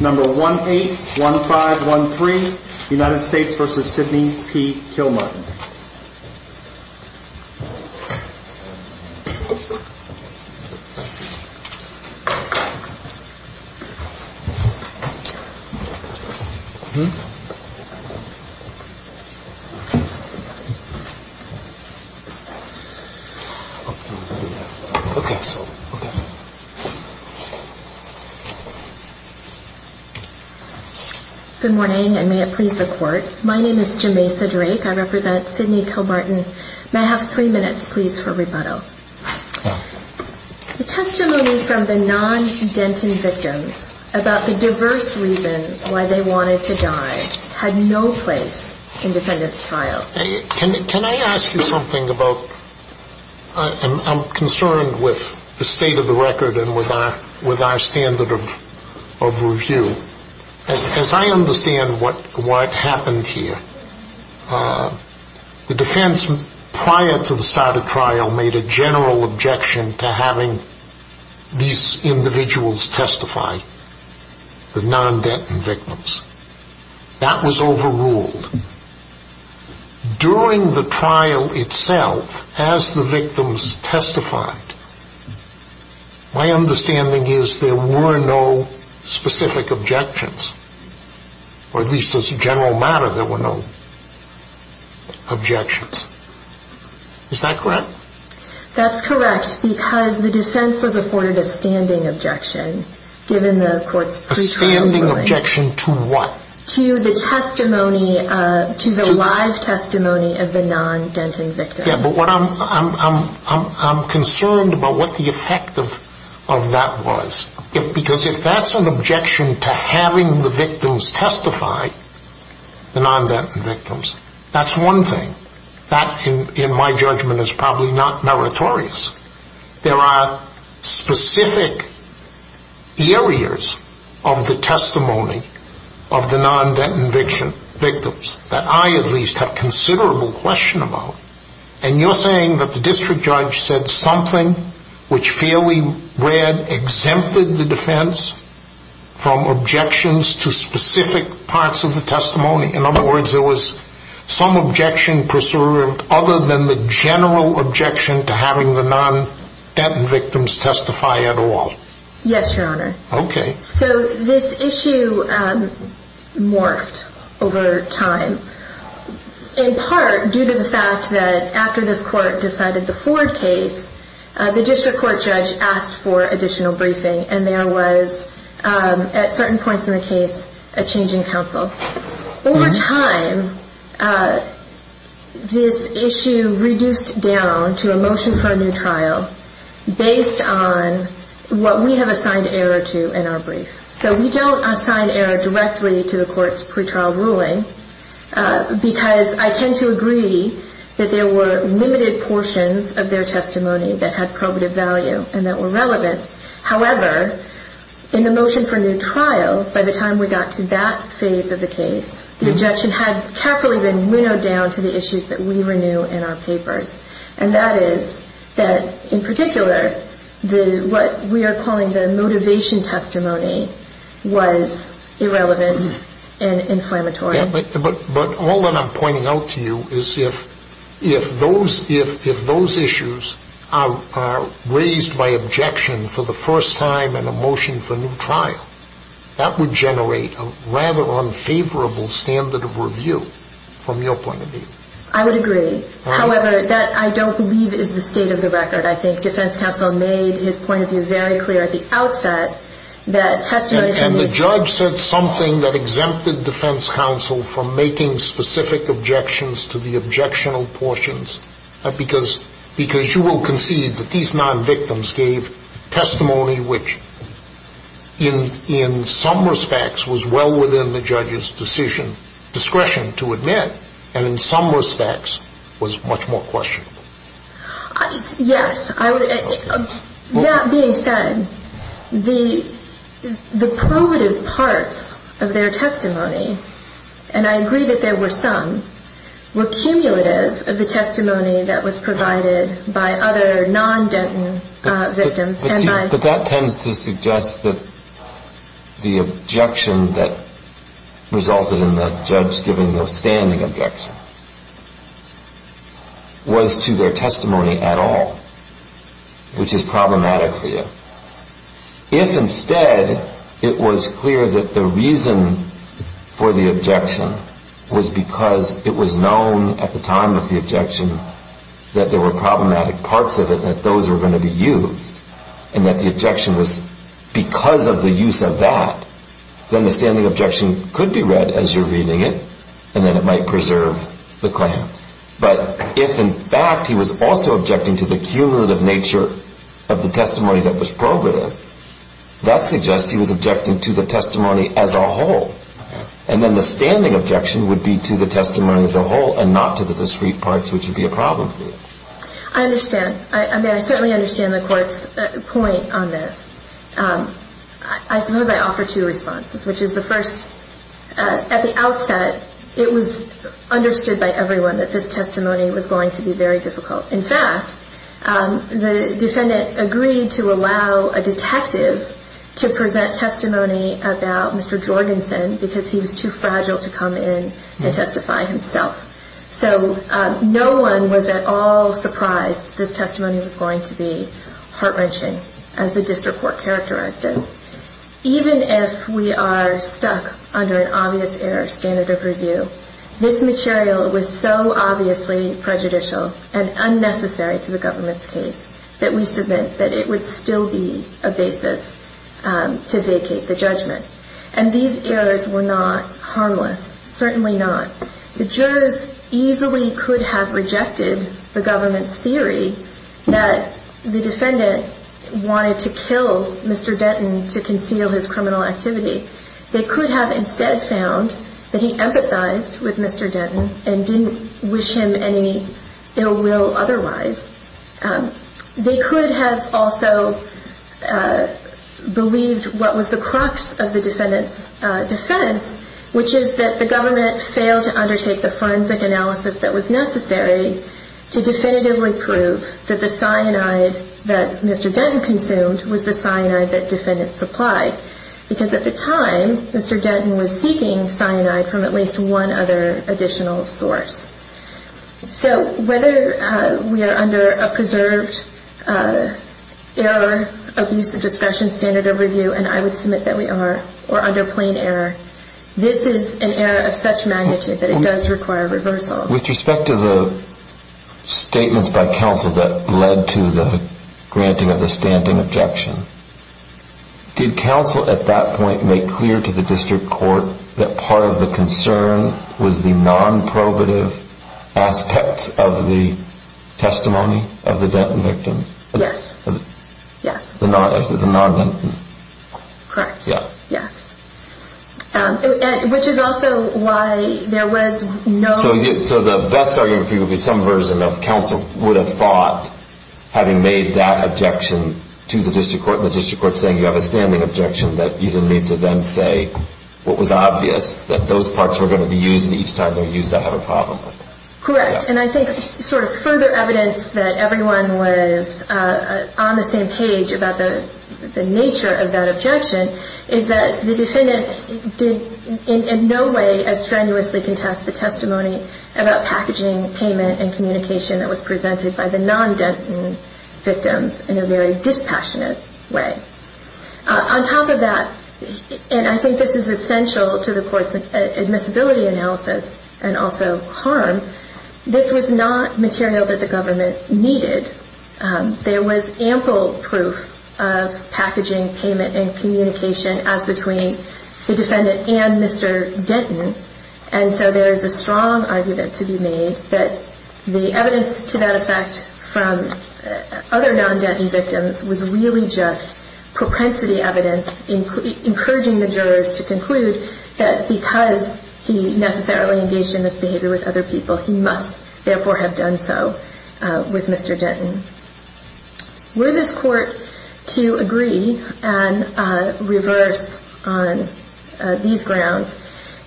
Number 181513 United States v. Sidney P. Kilmartin Good morning, and may it please the Court. My name is Jemaisa Drake. I represent Sidney Kilmartin. May I have three minutes, please, for rebuttal? The testimony from the non-Denton victims about the diverse reasons why they wanted to die had no place in defendant's trial. Can I ask you something? I'm concerned with the state of the record and with our standard of review. As I understand what happened here, the defense prior to the start of trial made a general objection to having these individuals testify, the non-Denton victims. That was overruled. During the trial itself, as the victims testified, my understanding is there were no specific objections, or at least as a general matter, there were no objections. Is that correct? That's correct, because the defense was afforded a standing objection, given the Court's pre-trial ruling. A standing objection to what? To the testimony, to the live testimony of the non-Denton victims. I'm concerned about what the effect of that was, because if that's an objection to having the victims testify, the non-Denton victims, that's one thing. That, in my judgment, is probably not meritorious. There are specific areas of the testimony of the non-Denton victims that I at least have considerable question about. And you're saying that the district judge said something which fairly read exempted the defense from objections to specific parts of the testimony. In other words, there was some objection preserved other than the general objection to having the non-Denton victims testify at all. Yes, Your Honor. Okay. So this issue morphed over time, in part due to the fact that after this Court decided the Ford case, the district court judge asked for additional briefing, and there was, at certain points in the case, a change in counsel. Over time, this issue reduced down to a motion for a new trial based on what we have assigned error to in our brief. So we don't assign error directly to the Court's pretrial ruling, because I tend to agree that there were limited portions of their testimony that had probative value and that were relevant. However, in the motion for new trial, by the time we got to that phase of the case, the objection had carefully been winnowed down to the issues that we renew in our papers. And that is that, in particular, what we are calling the motivation testimony was irrelevant and inflammatory. But all that I'm pointing out to you is if those issues are raised by objection for the first time in a motion for new trial, that would generate a rather unfavorable standard of review from your point of view. I would agree. However, that I don't believe is the state of the record. I think defense counsel made his point of view very clear at the outset that testimony can be— And the judge said something that exempted defense counsel from making specific objections to the objectionable portions, because you will concede that these non-victims gave testimony which, in some respects, was well within the judge's discretion to admit, and in some respects was much more questionable. Yes. That being said, the probative parts of their testimony, and I agree that there were some, were cumulative of the testimony that was provided by other non-Denton victims. But that tends to suggest that the objection that resulted in the judge giving the standing objection was to their testimony at all, which is problematic for you. If instead it was clear that the reason for the objection was because it was known at the time of the objection that there were problematic parts of it that those were going to be used, and that the objection was because of the use of that, then the standing objection could be read as you're reading it, and then it might preserve the claim. But if, in fact, he was also objecting to the cumulative nature of the testimony that was probative, that suggests he was objecting to the testimony as a whole. And then the standing objection would be to the testimony as a whole and not to the discrete parts, which would be a problem for you. I understand. I mean, I certainly understand the Court's point on this. I suppose I offer two responses, which is the first, at the outset, it was understood by everyone that this testimony was going to be very difficult. In fact, the defendant agreed to allow a detective to present testimony about Mr. Jorgensen because he was too fragile to come in and testify himself. So no one was at all surprised that this testimony was going to be heart-wrenching, as the district court characterized it. Even if we are stuck under an obvious error standard of review, this material was so obviously prejudicial and unnecessary to the government's case that we submit that it would still be a basis to vacate the judgment. And these errors were not harmless, certainly not. The jurors easily could have rejected the government's theory that the defendant wanted to kill Mr. Denton to conceal his criminal activity. They could have instead found that he empathized with Mr. Denton and didn't wish him any ill will otherwise. They could have also believed what was the crux of the defendant's defense, which is that the government failed to undertake the forensic analysis that was necessary to definitively prove that the cyanide that Mr. Denton consumed was the cyanide that defendants supplied. Because at the time, Mr. Denton was seeking cyanide from at least one other additional source. So whether we are under a preserved error of use of discretion standard of review, and I would submit that we are, or under plain error, this is an error of such magnitude that it does require reversal. With respect to the statements by counsel that led to the granting of the standing objection, did counsel at that point make clear to the district court that part of the concern was the non-probative aspects of the testimony of the Denton victim? Yes. The non-Denton? Correct. Yes. Which is also why there was no... So the best argument for you would be some version of counsel would have thought, having made that objection to the district court, and the district court saying you have a standing objection, that you didn't need to then say what was obvious, that those parts were going to be used, and each time they used that had a problem. Correct. And I think sort of further evidence that everyone was on the same page about the nature of that objection is that the defendant did in no way as strenuously contest the testimony about packaging, payment, and communication that was presented by the non-Denton victims in a very dispassionate way. On top of that, and I think this is essential to the court's admissibility analysis and also harm, this was not material that the government needed. There was ample proof of packaging, payment, and communication as between the defendant and Mr. Denton, and so there is a strong argument to be made that the evidence to that effect from other non-Denton victims was really just propensity evidence encouraging the jurors to conclude that because he necessarily engaged in this behavior with other people, he must therefore have done so with Mr. Denton. Were this court to agree and reverse on these grounds,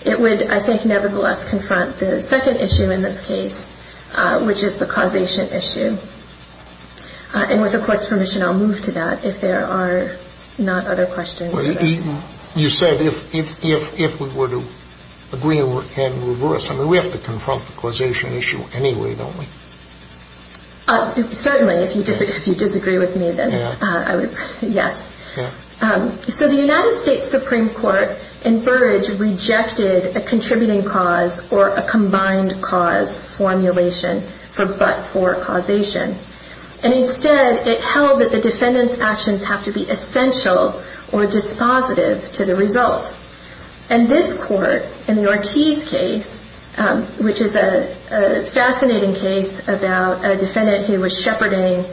it would, I think, nevertheless, confront the second issue in this case, which is the causation issue. And with the court's permission, I'll move to that if there are not other questions. You said if we were to agree and reverse. I mean, we have to confront the causation issue anyway, don't we? Certainly. If you disagree with me, then yes. So the United States Supreme Court in Burrage rejected a contributing cause or a combined cause formulation for but-for causation, and instead it held that the defendant's actions have to be essential or dispositive to the result. And this court in the Ortiz case, which is a fascinating case about a defendant who was shepherding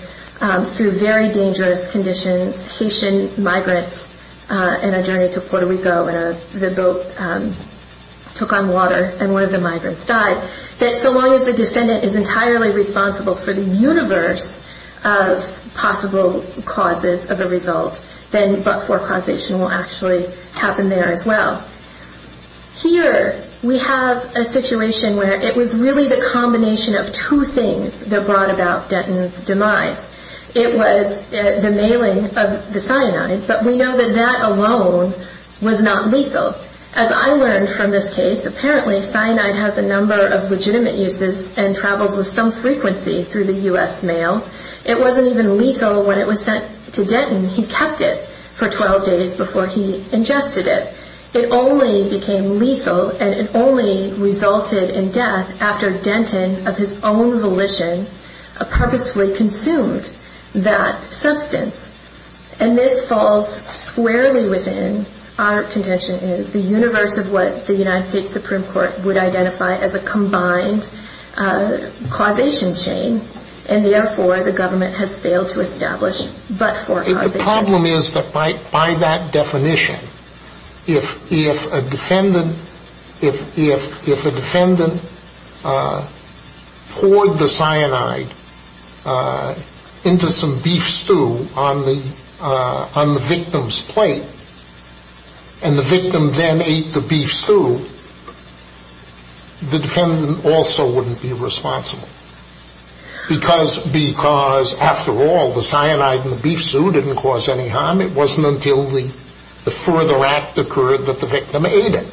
through very dangerous conditions, Haitian migrants in a journey to Puerto Rico, and the boat took on water and one of the migrants died, that so long as the defendant is entirely responsible for the universe of possible causes of a result, then but-for causation will actually happen there as well. Here we have a situation where it was really the combination of two things that brought about Denton's demise. It was the mailing of the cyanide, but we know that that alone was not lethal. As I learned from this case, apparently cyanide has a number of legitimate uses and travels with some frequency through the U.S. mail. It wasn't even lethal when it was sent to Denton. He kept it for 12 days before he ingested it. It only became lethal and it only resulted in death after Denton, of his own volition, purposefully consumed that substance. And this falls squarely within, our contention is, the universe of what the United States Supreme Court would identify as a combined causation chain, and therefore the government has failed to establish but-for causation. If a defendant poured the cyanide into some beef stew on the victim's plate and the victim then ate the beef stew, the defendant also wouldn't be responsible because, after all, the cyanide in the beef stew didn't cause any harm. It wasn't until the further act occurred that the victim ate it.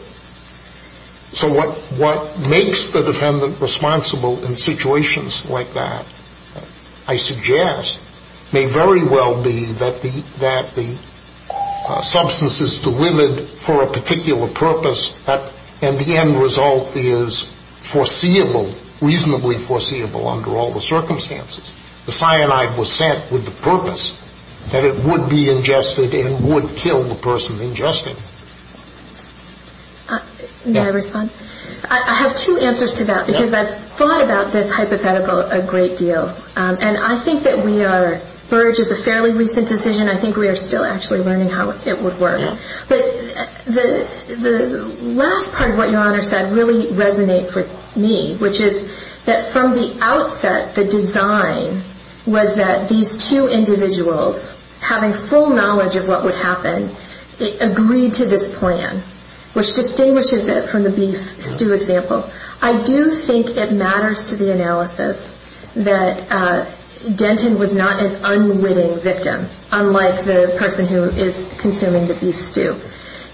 So what makes the defendant responsible in situations like that, I suggest, may very well be that the substance is delivered for a particular purpose and the end result is foreseeable, reasonably foreseeable under all the circumstances. The cyanide was sent with the purpose that it would be ingested and would kill the person ingested. May I respond? I have two answers to that because I've thought about this hypothetical a great deal. And I think that we are, Burge, it's a fairly recent decision. I think we are still actually learning how it would work. But the last part of what Your Honor said really resonates with me, which is that from the outset the design was that these two individuals, having full knowledge of what would happen, agreed to this plan, which distinguishes it from the beef stew example. I do think it matters to the analysis that Denton was not an unwitting victim, unlike the person who is consuming the beef stew.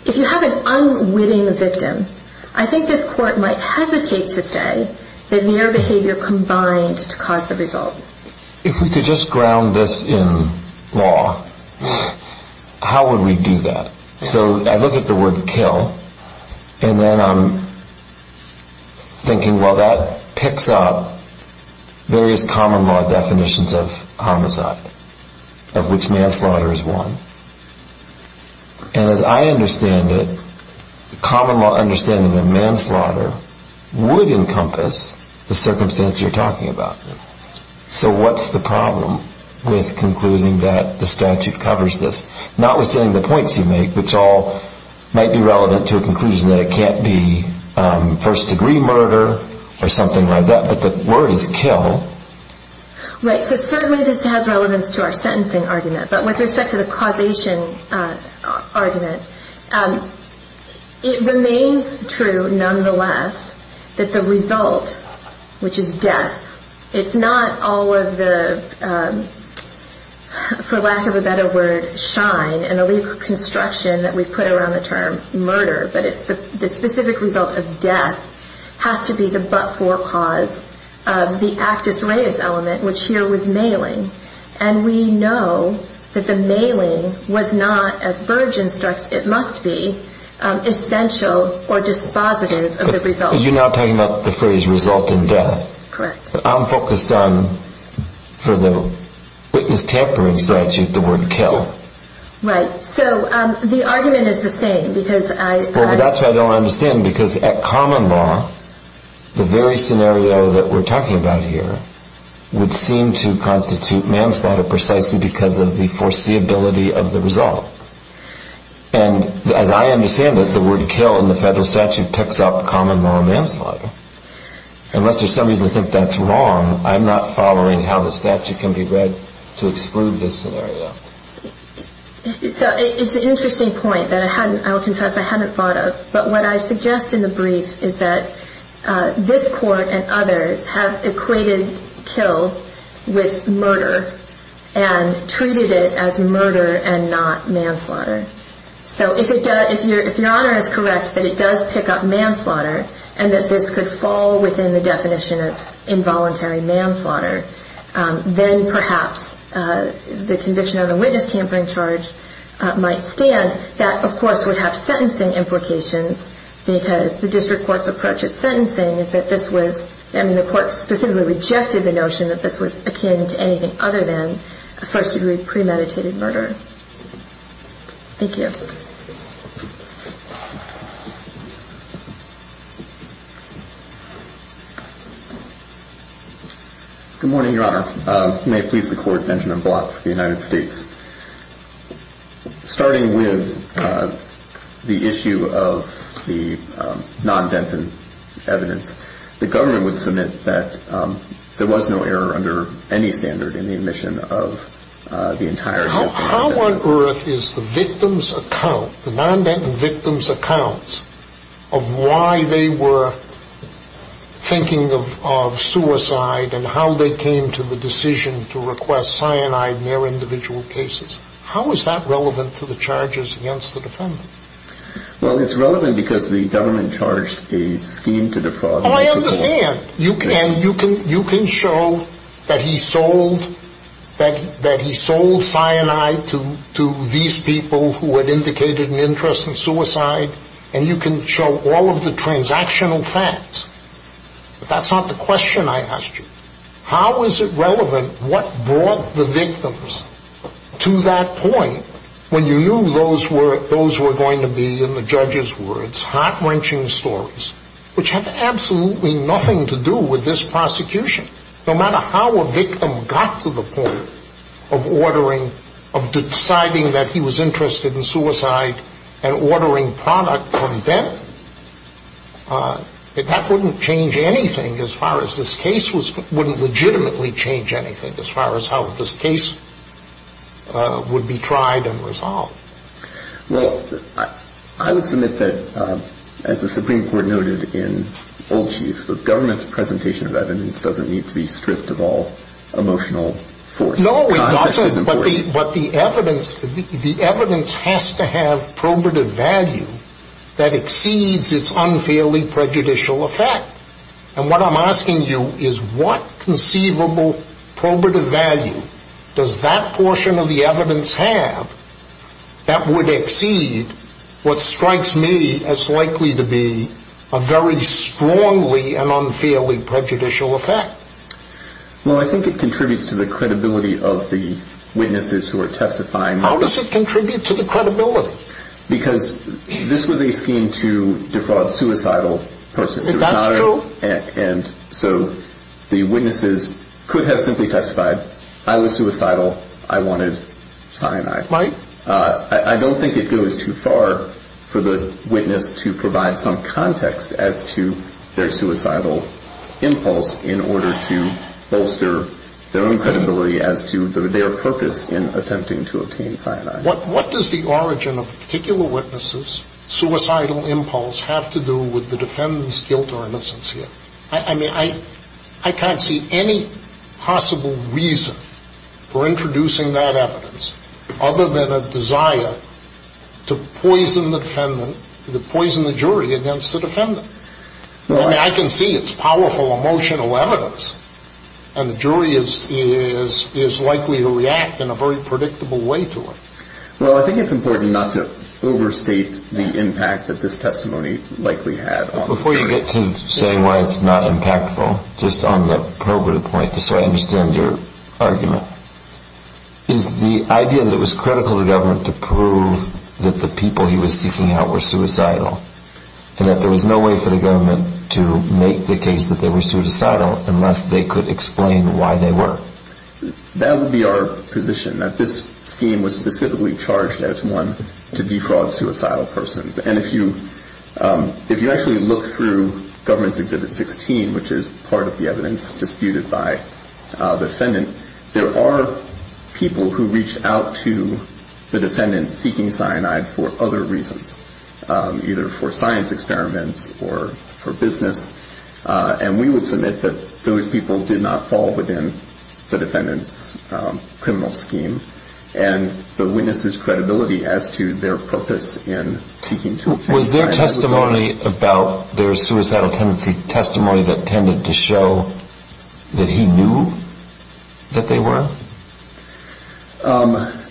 If you have an unwitting victim, I think this Court might hesitate to say that mere behavior combined to cause the result. If we could just ground this in law, how would we do that? So I look at the word kill and then I'm thinking, well, that picks up various common law definitions of homicide, of which manslaughter is one. And as I understand it, common law understanding of manslaughter would encompass the circumstance you're talking about. So what's the problem with concluding that the statute covers this? Notwithstanding the points you make, which all might be relevant to a conclusion that it can't be first degree murder or something like that, but the word is kill. Right, so certainly this has relevance to our sentencing argument. But with respect to the causation argument, it remains true, nonetheless, that the result, which is death, it's not all of the, for lack of a better word, shine and the legal construction that we put around the term murder, but the specific result of death has to be the but-for cause of the actus reus element, which here was mailing. And we know that the mailing was not, as Burge instructs, it must be essential or dispositive of the result. But you're not talking about the phrase result in death. Correct. I'm focused on, for the witness tampering statute, the word kill. Right. So the argument is the same because I... ...precisely because of the foreseeability of the result. And as I understand it, the word kill in the federal statute picks up common law manslaughter. Unless there's some reason to think that's wrong, I'm not following how the statute can be read to exclude this scenario. So it's an interesting point that I'll confess I hadn't thought of. But what I suggest in the brief is that this court and others have equated kill with murder and treated it as murder and not manslaughter. So if your Honor is correct that it does pick up manslaughter and that this could fall within the definition of involuntary manslaughter, then perhaps the conviction of the witness tampering charge might stand. That, of course, would have sentencing implications because the district court's approach at sentencing is that this was... I mean, the court specifically rejected the notion that this was akin to anything other than a first-degree premeditated murder. Thank you. Good morning, Your Honor. May it please the court, Benjamin Block for the United States. Starting with the issue of the non-Denton evidence, the government would submit that there was no error under any standard in the admission of the entire... How on earth is the victim's account, the non-Denton victim's accounts of why they were thinking of suicide and how they came to the decision to request cyanide in their individual cases, how is that relevant to the charges against the defendant? Well, it's relevant because the government charged a scheme to defraud... to these people who had indicated an interest in suicide, and you can show all of the transactional facts. But that's not the question I asked you. How is it relevant what brought the victims to that point when you knew those were going to be, in the judge's words, heart-wrenching stories which have absolutely nothing to do with this prosecution? No matter how a victim got to the point of ordering, of deciding that he was interested in suicide and ordering product from Denton, that wouldn't change anything as far as this case was... wouldn't legitimately change anything as far as how this case would be tried and resolved. Well, I would submit that, as the Supreme Court noted in Old Chief, the government's presentation of evidence doesn't need to be stripped of all emotional force. No, it doesn't, but the evidence has to have probative value that exceeds its unfairly prejudicial effect. And what I'm asking you is, what conceivable probative value does that portion of the evidence have that would exceed what strikes me as likely to be a very strongly and unfairly prejudicial effect? Well, I think it contributes to the credibility of the witnesses who are testifying... How does it contribute to the credibility? Because this was a scheme to defraud suicidal persons. That's true. And so the witnesses could have simply testified, I was suicidal, I wanted cyanide. Right. I don't think it goes too far for the witness to provide some context as to their suicidal impulse in order to bolster their own credibility as to their purpose in attempting to obtain cyanide. What does the origin of particular witnesses' suicidal impulse have to do with the defendant's guilt or innocence here? I mean, I can't see any possible reason for introducing that evidence other than a desire to poison the jury against the defendant. I mean, I can see it's powerful emotional evidence, and the jury is likely to react in a very predictable way to it. Well, I think it's important not to overstate the impact that this testimony likely had on the jury. Before you get to saying why it's not impactful, just on the probative point, just so I understand your argument, is the idea that it was critical to government to prove that the people he was seeking out were suicidal and that there was no way for the government to make the case that they were suicidal unless they could explain why they were? That would be our position, that this scheme was specifically charged as one to defraud suicidal persons. And if you actually look through Government's Exhibit 16, which is part of the evidence disputed by the defendant, there are people who reach out to the defendant seeking cyanide for other reasons, either for science experiments or for business. And we would submit that those people did not fall within the defendant's criminal scheme and the witness's credibility as to their purpose in seeking to obtain cyanide. Was their testimony about their suicidal tendency testimony that tended to show that he knew that they were?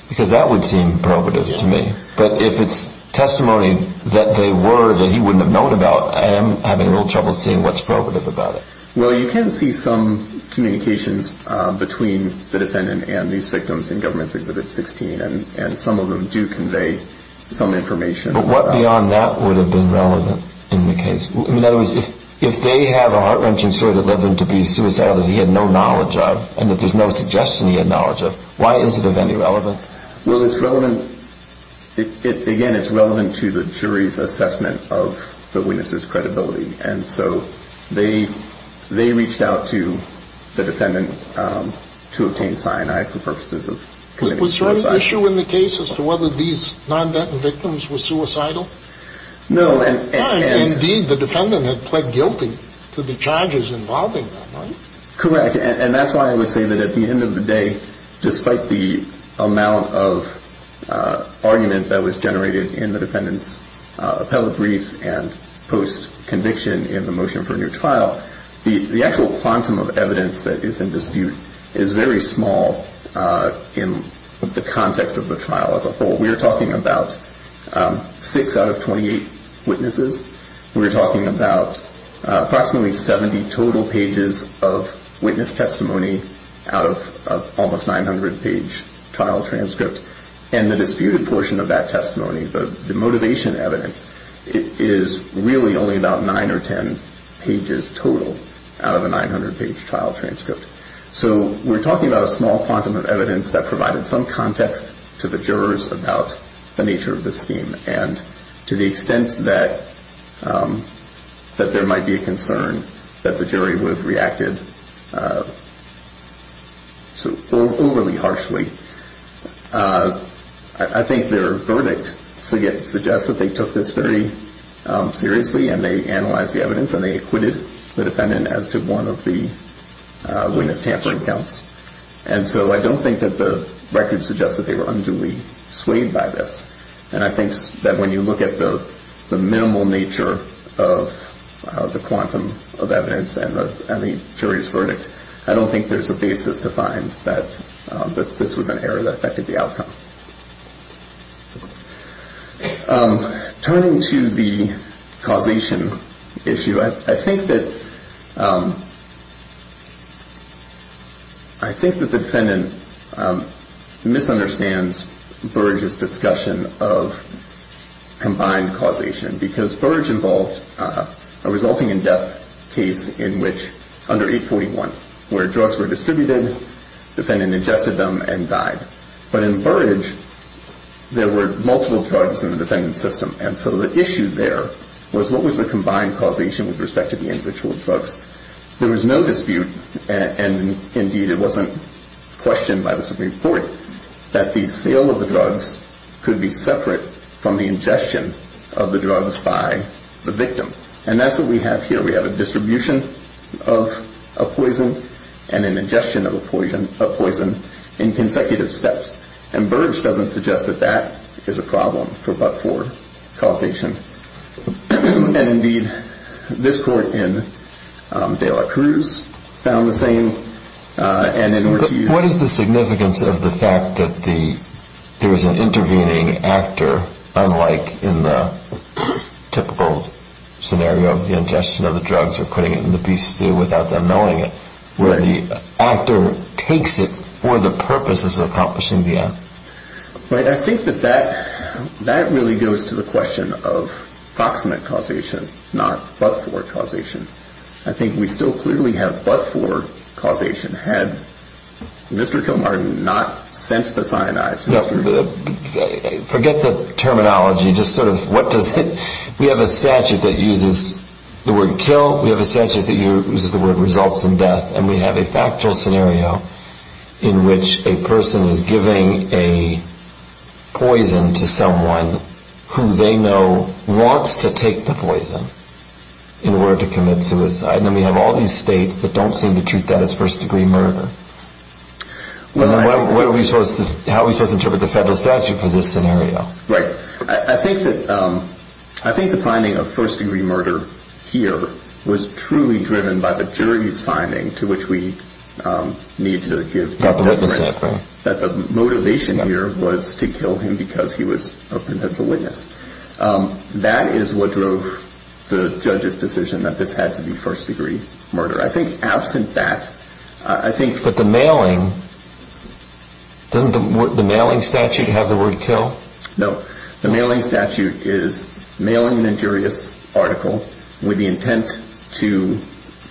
Because that would seem probative to me. But if it's testimony that they were that he wouldn't have known about, I am having a little trouble seeing what's probative about it. Well, you can see some communications between the defendant and these victims in Government's Exhibit 16, and some of them do convey some information. But what beyond that would have been relevant in the case? In other words, if they have a heart-wrenching story that led them to be suicidal that he had no knowledge of and that there's no suggestion he had knowledge of, why is it of any relevance? Well, it's relevant. Again, it's relevant to the jury's assessment of the witness's credibility. And so they reached out to the defendant to obtain cyanide for purposes of committing suicide. Was there an issue in the case as to whether these non-Venton victims were suicidal? No. Indeed, the defendant had pled guilty to the charges involving them, right? Correct. And that's why I would say that at the end of the day, despite the amount of argument that was generated in the defendant's appellate brief and post-conviction in the motion for a new trial, the actual quantum of evidence that is in dispute is very small in the context of the trial as a whole. We are talking about 6 out of 28 witnesses. We're talking about approximately 70 total pages of witness testimony out of almost 900-page trial transcript. And the disputed portion of that testimony, the motivation evidence, is really only about 9 or 10 pages total out of a 900-page trial transcript. So we're talking about a small quantum of evidence that provided some context to the jurors about the nature of the scheme. And to the extent that there might be a concern that the jury would have reacted overly harshly, I think their verdict suggests that they took this very seriously and they analyzed the evidence and they acquitted the defendant as to one of the witness tampering counts. And so I don't think that the record suggests that they were unduly swayed by this. And I think that when you look at the minimal nature of the quantum of evidence and the jury's verdict, I don't think there's a basis to find that this was an error that affected the outcome. Turning to the causation issue, I think that the defendant misunderstands Burrage's discussion of combined causation. Because Burrage involved a resulting-in-death case in which under 841 where drugs were distributed, the defendant ingested them and died. But in Burrage, there were multiple drugs in the defendant's system. And so the issue there was what was the combined causation with respect to the individual drugs? There was no dispute, and indeed it wasn't questioned by the Supreme Court, that the sale of the drugs could be separate from the ingestion of the drugs by the victim. And that's what we have here. We have a distribution of a poison and an ingestion of a poison in consecutive steps. And Burrage doesn't suggest that that is a problem but for causation. And indeed, this court in De La Cruz found the same. And in order to use- What is the significance of the fact that there was an intervening actor, unlike in the typical scenario of the ingestion of the drugs or putting it in the beast's stew without them knowing it, where the actor takes it for the purpose of accomplishing the act? Right. I think that that really goes to the question of proximate causation, not but-for causation. I think we still clearly have but-for causation had Mr. Kilmartin not sent the cyanides. Forget the terminology. We have a statute that uses the word kill. We have a statute that uses the word results in death. And we have a factual scenario in which a person is giving a poison to someone who they know wants to take the poison in order to commit suicide. And then we have all these states that don't seem to treat that as first-degree murder. What are we supposed to-how are we supposed to interpret the federal statute for this scenario? Right. I think that-I think the finding of first-degree murder here was truly driven by the jury's finding, to which we need to give evidence that the motivation here was to kill him because he was a potential witness. That is what drove the judge's decision that this had to be first-degree murder. I think absent that, I think- But the mailing-doesn't the mailing statute have the word kill? No. The mailing statute is mailing an injurious article with the intent to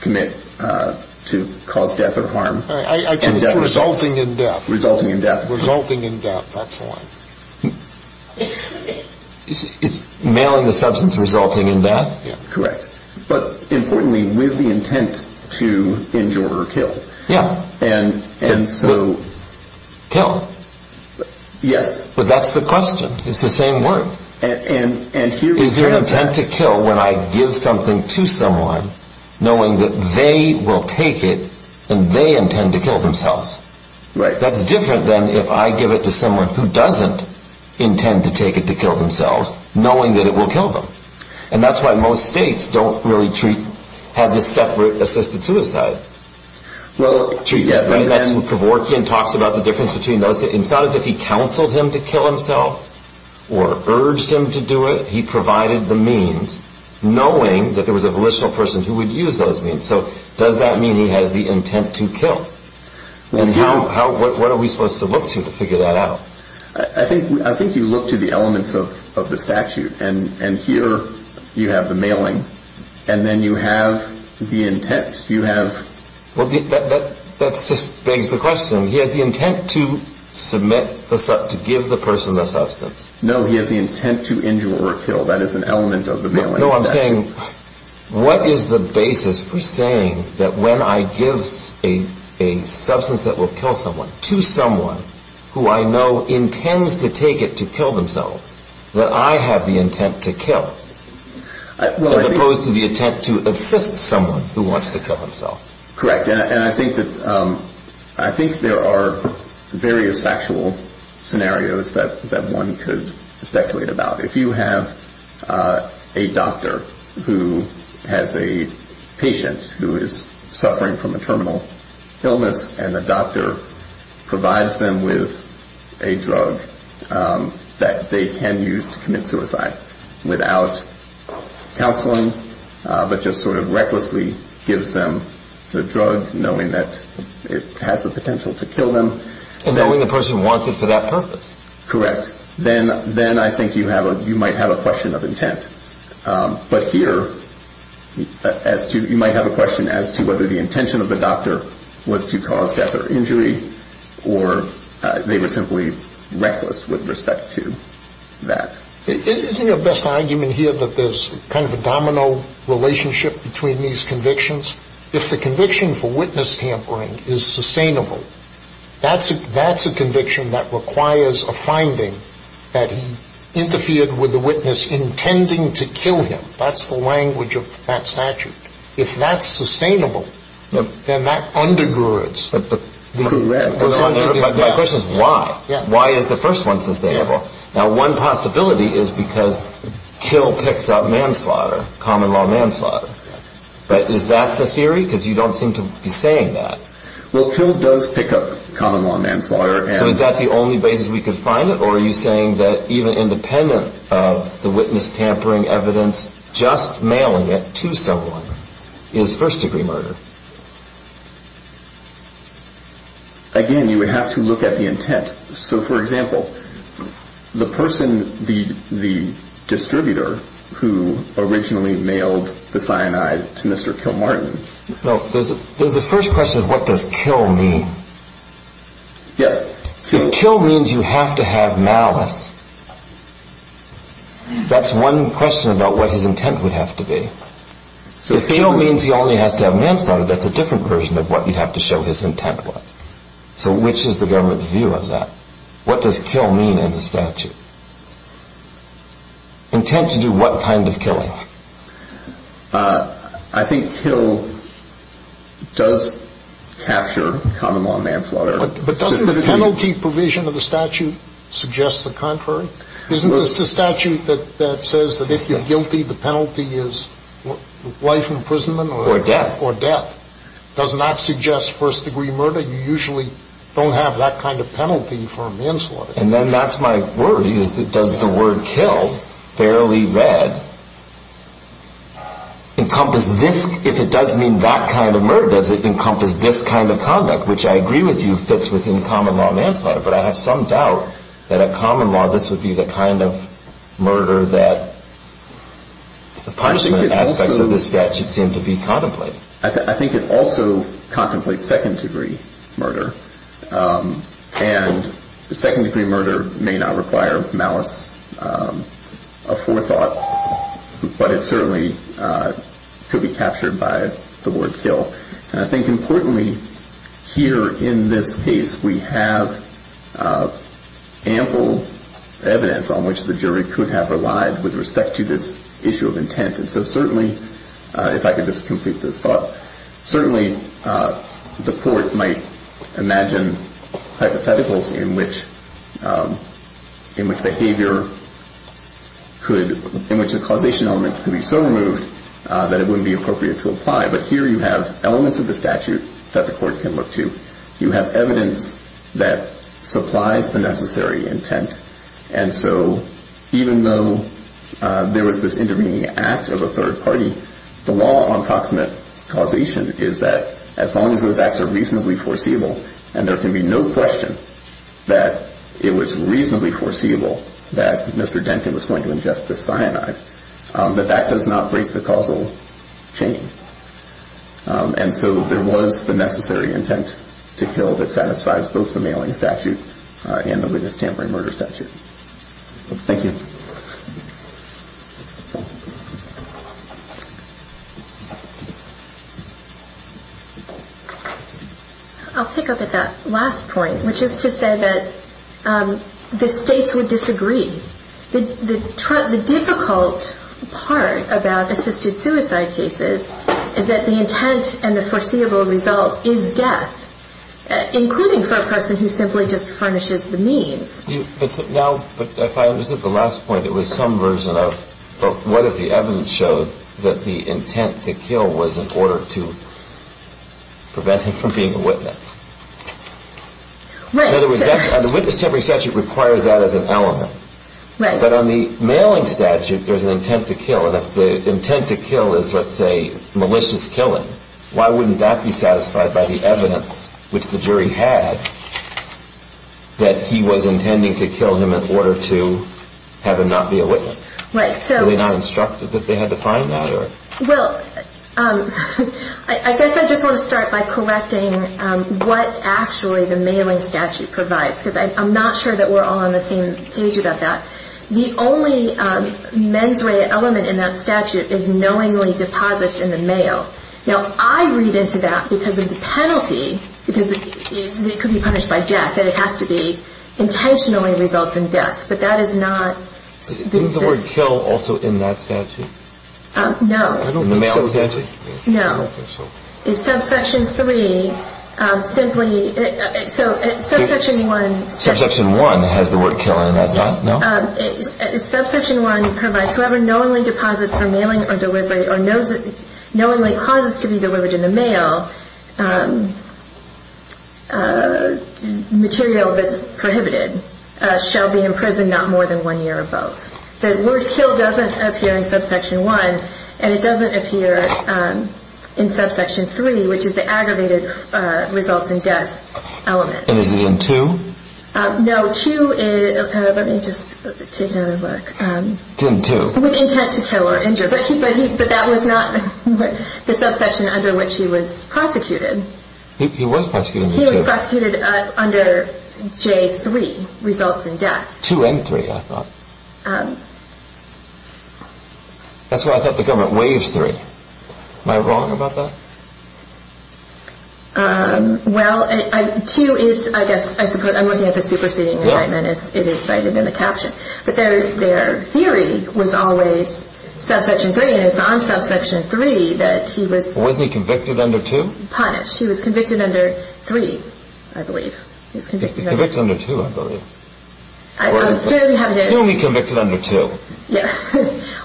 commit-to cause death or harm. I think it's resulting in death. Resulting in death. Resulting in death. That's the one. Is mailing the substance resulting in death? Correct. But importantly, with the intent to injure or kill. Yeah. And so- Kill. Yes. But that's the question. It's the same word. And here's the- Is there an intent to kill when I give something to someone knowing that they will take it and they intend to kill themselves? Right. That's different than if I give it to someone who doesn't intend to take it to kill themselves, knowing that it will kill them. And that's why most states don't really treat-have this separate assisted suicide treatment. Well, yes. And that's when Kevorkian talks about the difference between those-it's not as if he counseled him to kill himself or urged him to do it. He provided the means, knowing that there was a volitional person who would use those means. So does that mean he has the intent to kill? And how-what are we supposed to look to to figure that out? I think you look to the elements of the statute. And here you have the mailing. And then you have the intent. You have- Well, that just begs the question. He has the intent to submit-to give the person the substance. No, he has the intent to injure or kill. That is an element of the mailing statute. What is the basis for saying that when I give a substance that will kill someone to someone who I know intends to take it to kill themselves, that I have the intent to kill, as opposed to the intent to assist someone who wants to kill himself? Correct. And I think that-I think there are various factual scenarios that one could speculate about. If you have a doctor who has a patient who is suffering from a terminal illness, and the doctor provides them with a drug that they can use to commit suicide without counseling, but just sort of recklessly gives them the drug, knowing that it has the potential to kill them- And knowing the person wants it for that purpose. Correct. Then I think you might have a question of intent. But here, you might have a question as to whether the intention of the doctor was to cause death or injury, or they were simply reckless with respect to that. Isn't your best argument here that there's kind of a domino relationship between these convictions? If the conviction for witness tampering is sustainable, that's a conviction that requires a finding that he interfered with the witness intending to kill him. That's the language of that statute. If that's sustainable, then that undergirds- Correct. My question is why. Why is the first one sustainable? Now, one possibility is because kill picks up manslaughter, common law manslaughter. But is that the theory? Because you don't seem to be saying that. Well, kill does pick up common law manslaughter. So is that the only basis we could find it, or are you saying that even independent of the witness tampering evidence, just mailing it to someone is first-degree murder? Again, you would have to look at the intent. So, for example, the person, the distributor who originally mailed the cyanide to Mr. Kilmartin- There's a first question of what does kill mean. Yes. If kill means you have to have malice, that's one question about what his intent would have to be. If kill means he only has to have manslaughter, that's a different version of what you'd have to show his intent was. So which is the government's view on that? What does kill mean in the statute? Intent to do what kind of killing? I think kill does capture common law manslaughter. But doesn't the penalty provision of the statute suggest the contrary? Isn't this the statute that says that if you're guilty, the penalty is life imprisonment? Or death. Or death. Does not suggest first-degree murder? You usually don't have that kind of penalty for manslaughter. And then that's my worry, is does the word kill, barely read, encompass this? If it does mean that kind of murder, does it encompass this kind of conduct, which I agree with you fits within common law manslaughter. But I have some doubt that a common law, this would be the kind of murder that the punishment aspects of the statute seem to be contemplating. I think it also contemplates second-degree murder. And second-degree murder may not require malice of forethought, but it certainly could be captured by the word kill. And I think, importantly, here in this case, we have ample evidence on which the jury could have relied with respect to this issue of intent. And so certainly, if I could just complete this thought, certainly the court might imagine hypotheticals in which behavior could, in which the causation element could be so removed that it wouldn't be appropriate to apply. But here you have elements of the statute that the court can look to. You have evidence that supplies the necessary intent. And so even though there was this intervening act of a third party, the law on proximate causation is that as long as those acts are reasonably foreseeable, and there can be no question that it was reasonably foreseeable that Mr. Denton was going to ingest the cyanide, that that does not break the causal chain. And so there was the necessary intent to kill that satisfies both the mailing statute and the witness tampering murder statute. Thank you. I'll pick up at that last point, which is to say that the states would disagree. The difficult part about assisted suicide cases is that the intent and the foreseeable result is death, including for a person who simply just furnishes the means. Now, if I understand the last point, it was some version of what if the evidence showed that the intent to kill was in order to prevent him from being a witness? Right, sir. In other words, the witness tampering statute requires that as an element. Right. But on the mailing statute, there's an intent to kill. And if the intent to kill is, let's say, malicious killing, why wouldn't that be satisfied by the evidence, which the jury had, that he was intending to kill him in order to have him not be a witness? Right. Were they not instructed that they had to find that? Well, I guess I just want to start by correcting what actually the mailing statute provides, because I'm not sure that we're all on the same page about that. The only mens rea element in that statute is knowingly deposits in the mail. Now, I read into that because of the penalty, because it could be punished by death, that it has to be intentionally results in death. But that is not this. Isn't the word kill also in that statute? No. In the mailing statute? No. I don't think so. In subsection 3, simply, so subsection 1. Subsection 1 has the word kill in it, does not it? No. Subsection 1 provides whoever knowingly deposits for mailing or delivery or knowingly causes to be delivered in the mail material that's prohibited shall be in prison not more than one year or both. The word kill doesn't appear in subsection 1, and it doesn't appear in subsection 3, which is the aggravated results in death element. And is it in 2? No, 2 is, let me just take another look. It's in 2. With intent to kill or injure, but that was not the subsection under which he was prosecuted. He was prosecuted in 2. He was prosecuted under J3, results in death. 2 and 3, I thought. That's why I thought the government waives 3. Am I wrong about that? Well, 2 is, I guess, I'm looking at the superseding indictment as it is cited in the caption. But their theory was always subsection 3, and it's on subsection 3 that he was punished. Wasn't he convicted under 2? He was convicted under 3, I believe. He was convicted under 2, I believe. I certainly have no doubt. 2 he convicted under 2.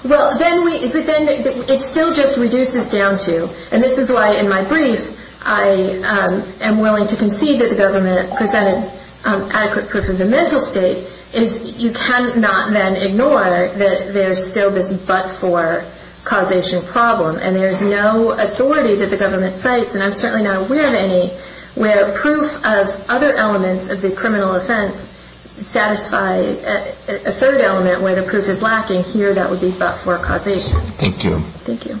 Well, then it still just reduces down to, and this is why in my brief I am willing to concede that the government presented adequate proof of the mental state, is you cannot then ignore that there's still this but-for causation problem, and there's no authority that the government cites, and I'm certainly not aware of any, where proof of other elements of the criminal offense satisfy a third element where the proof is lacking, here that would be but-for causation. Thank you.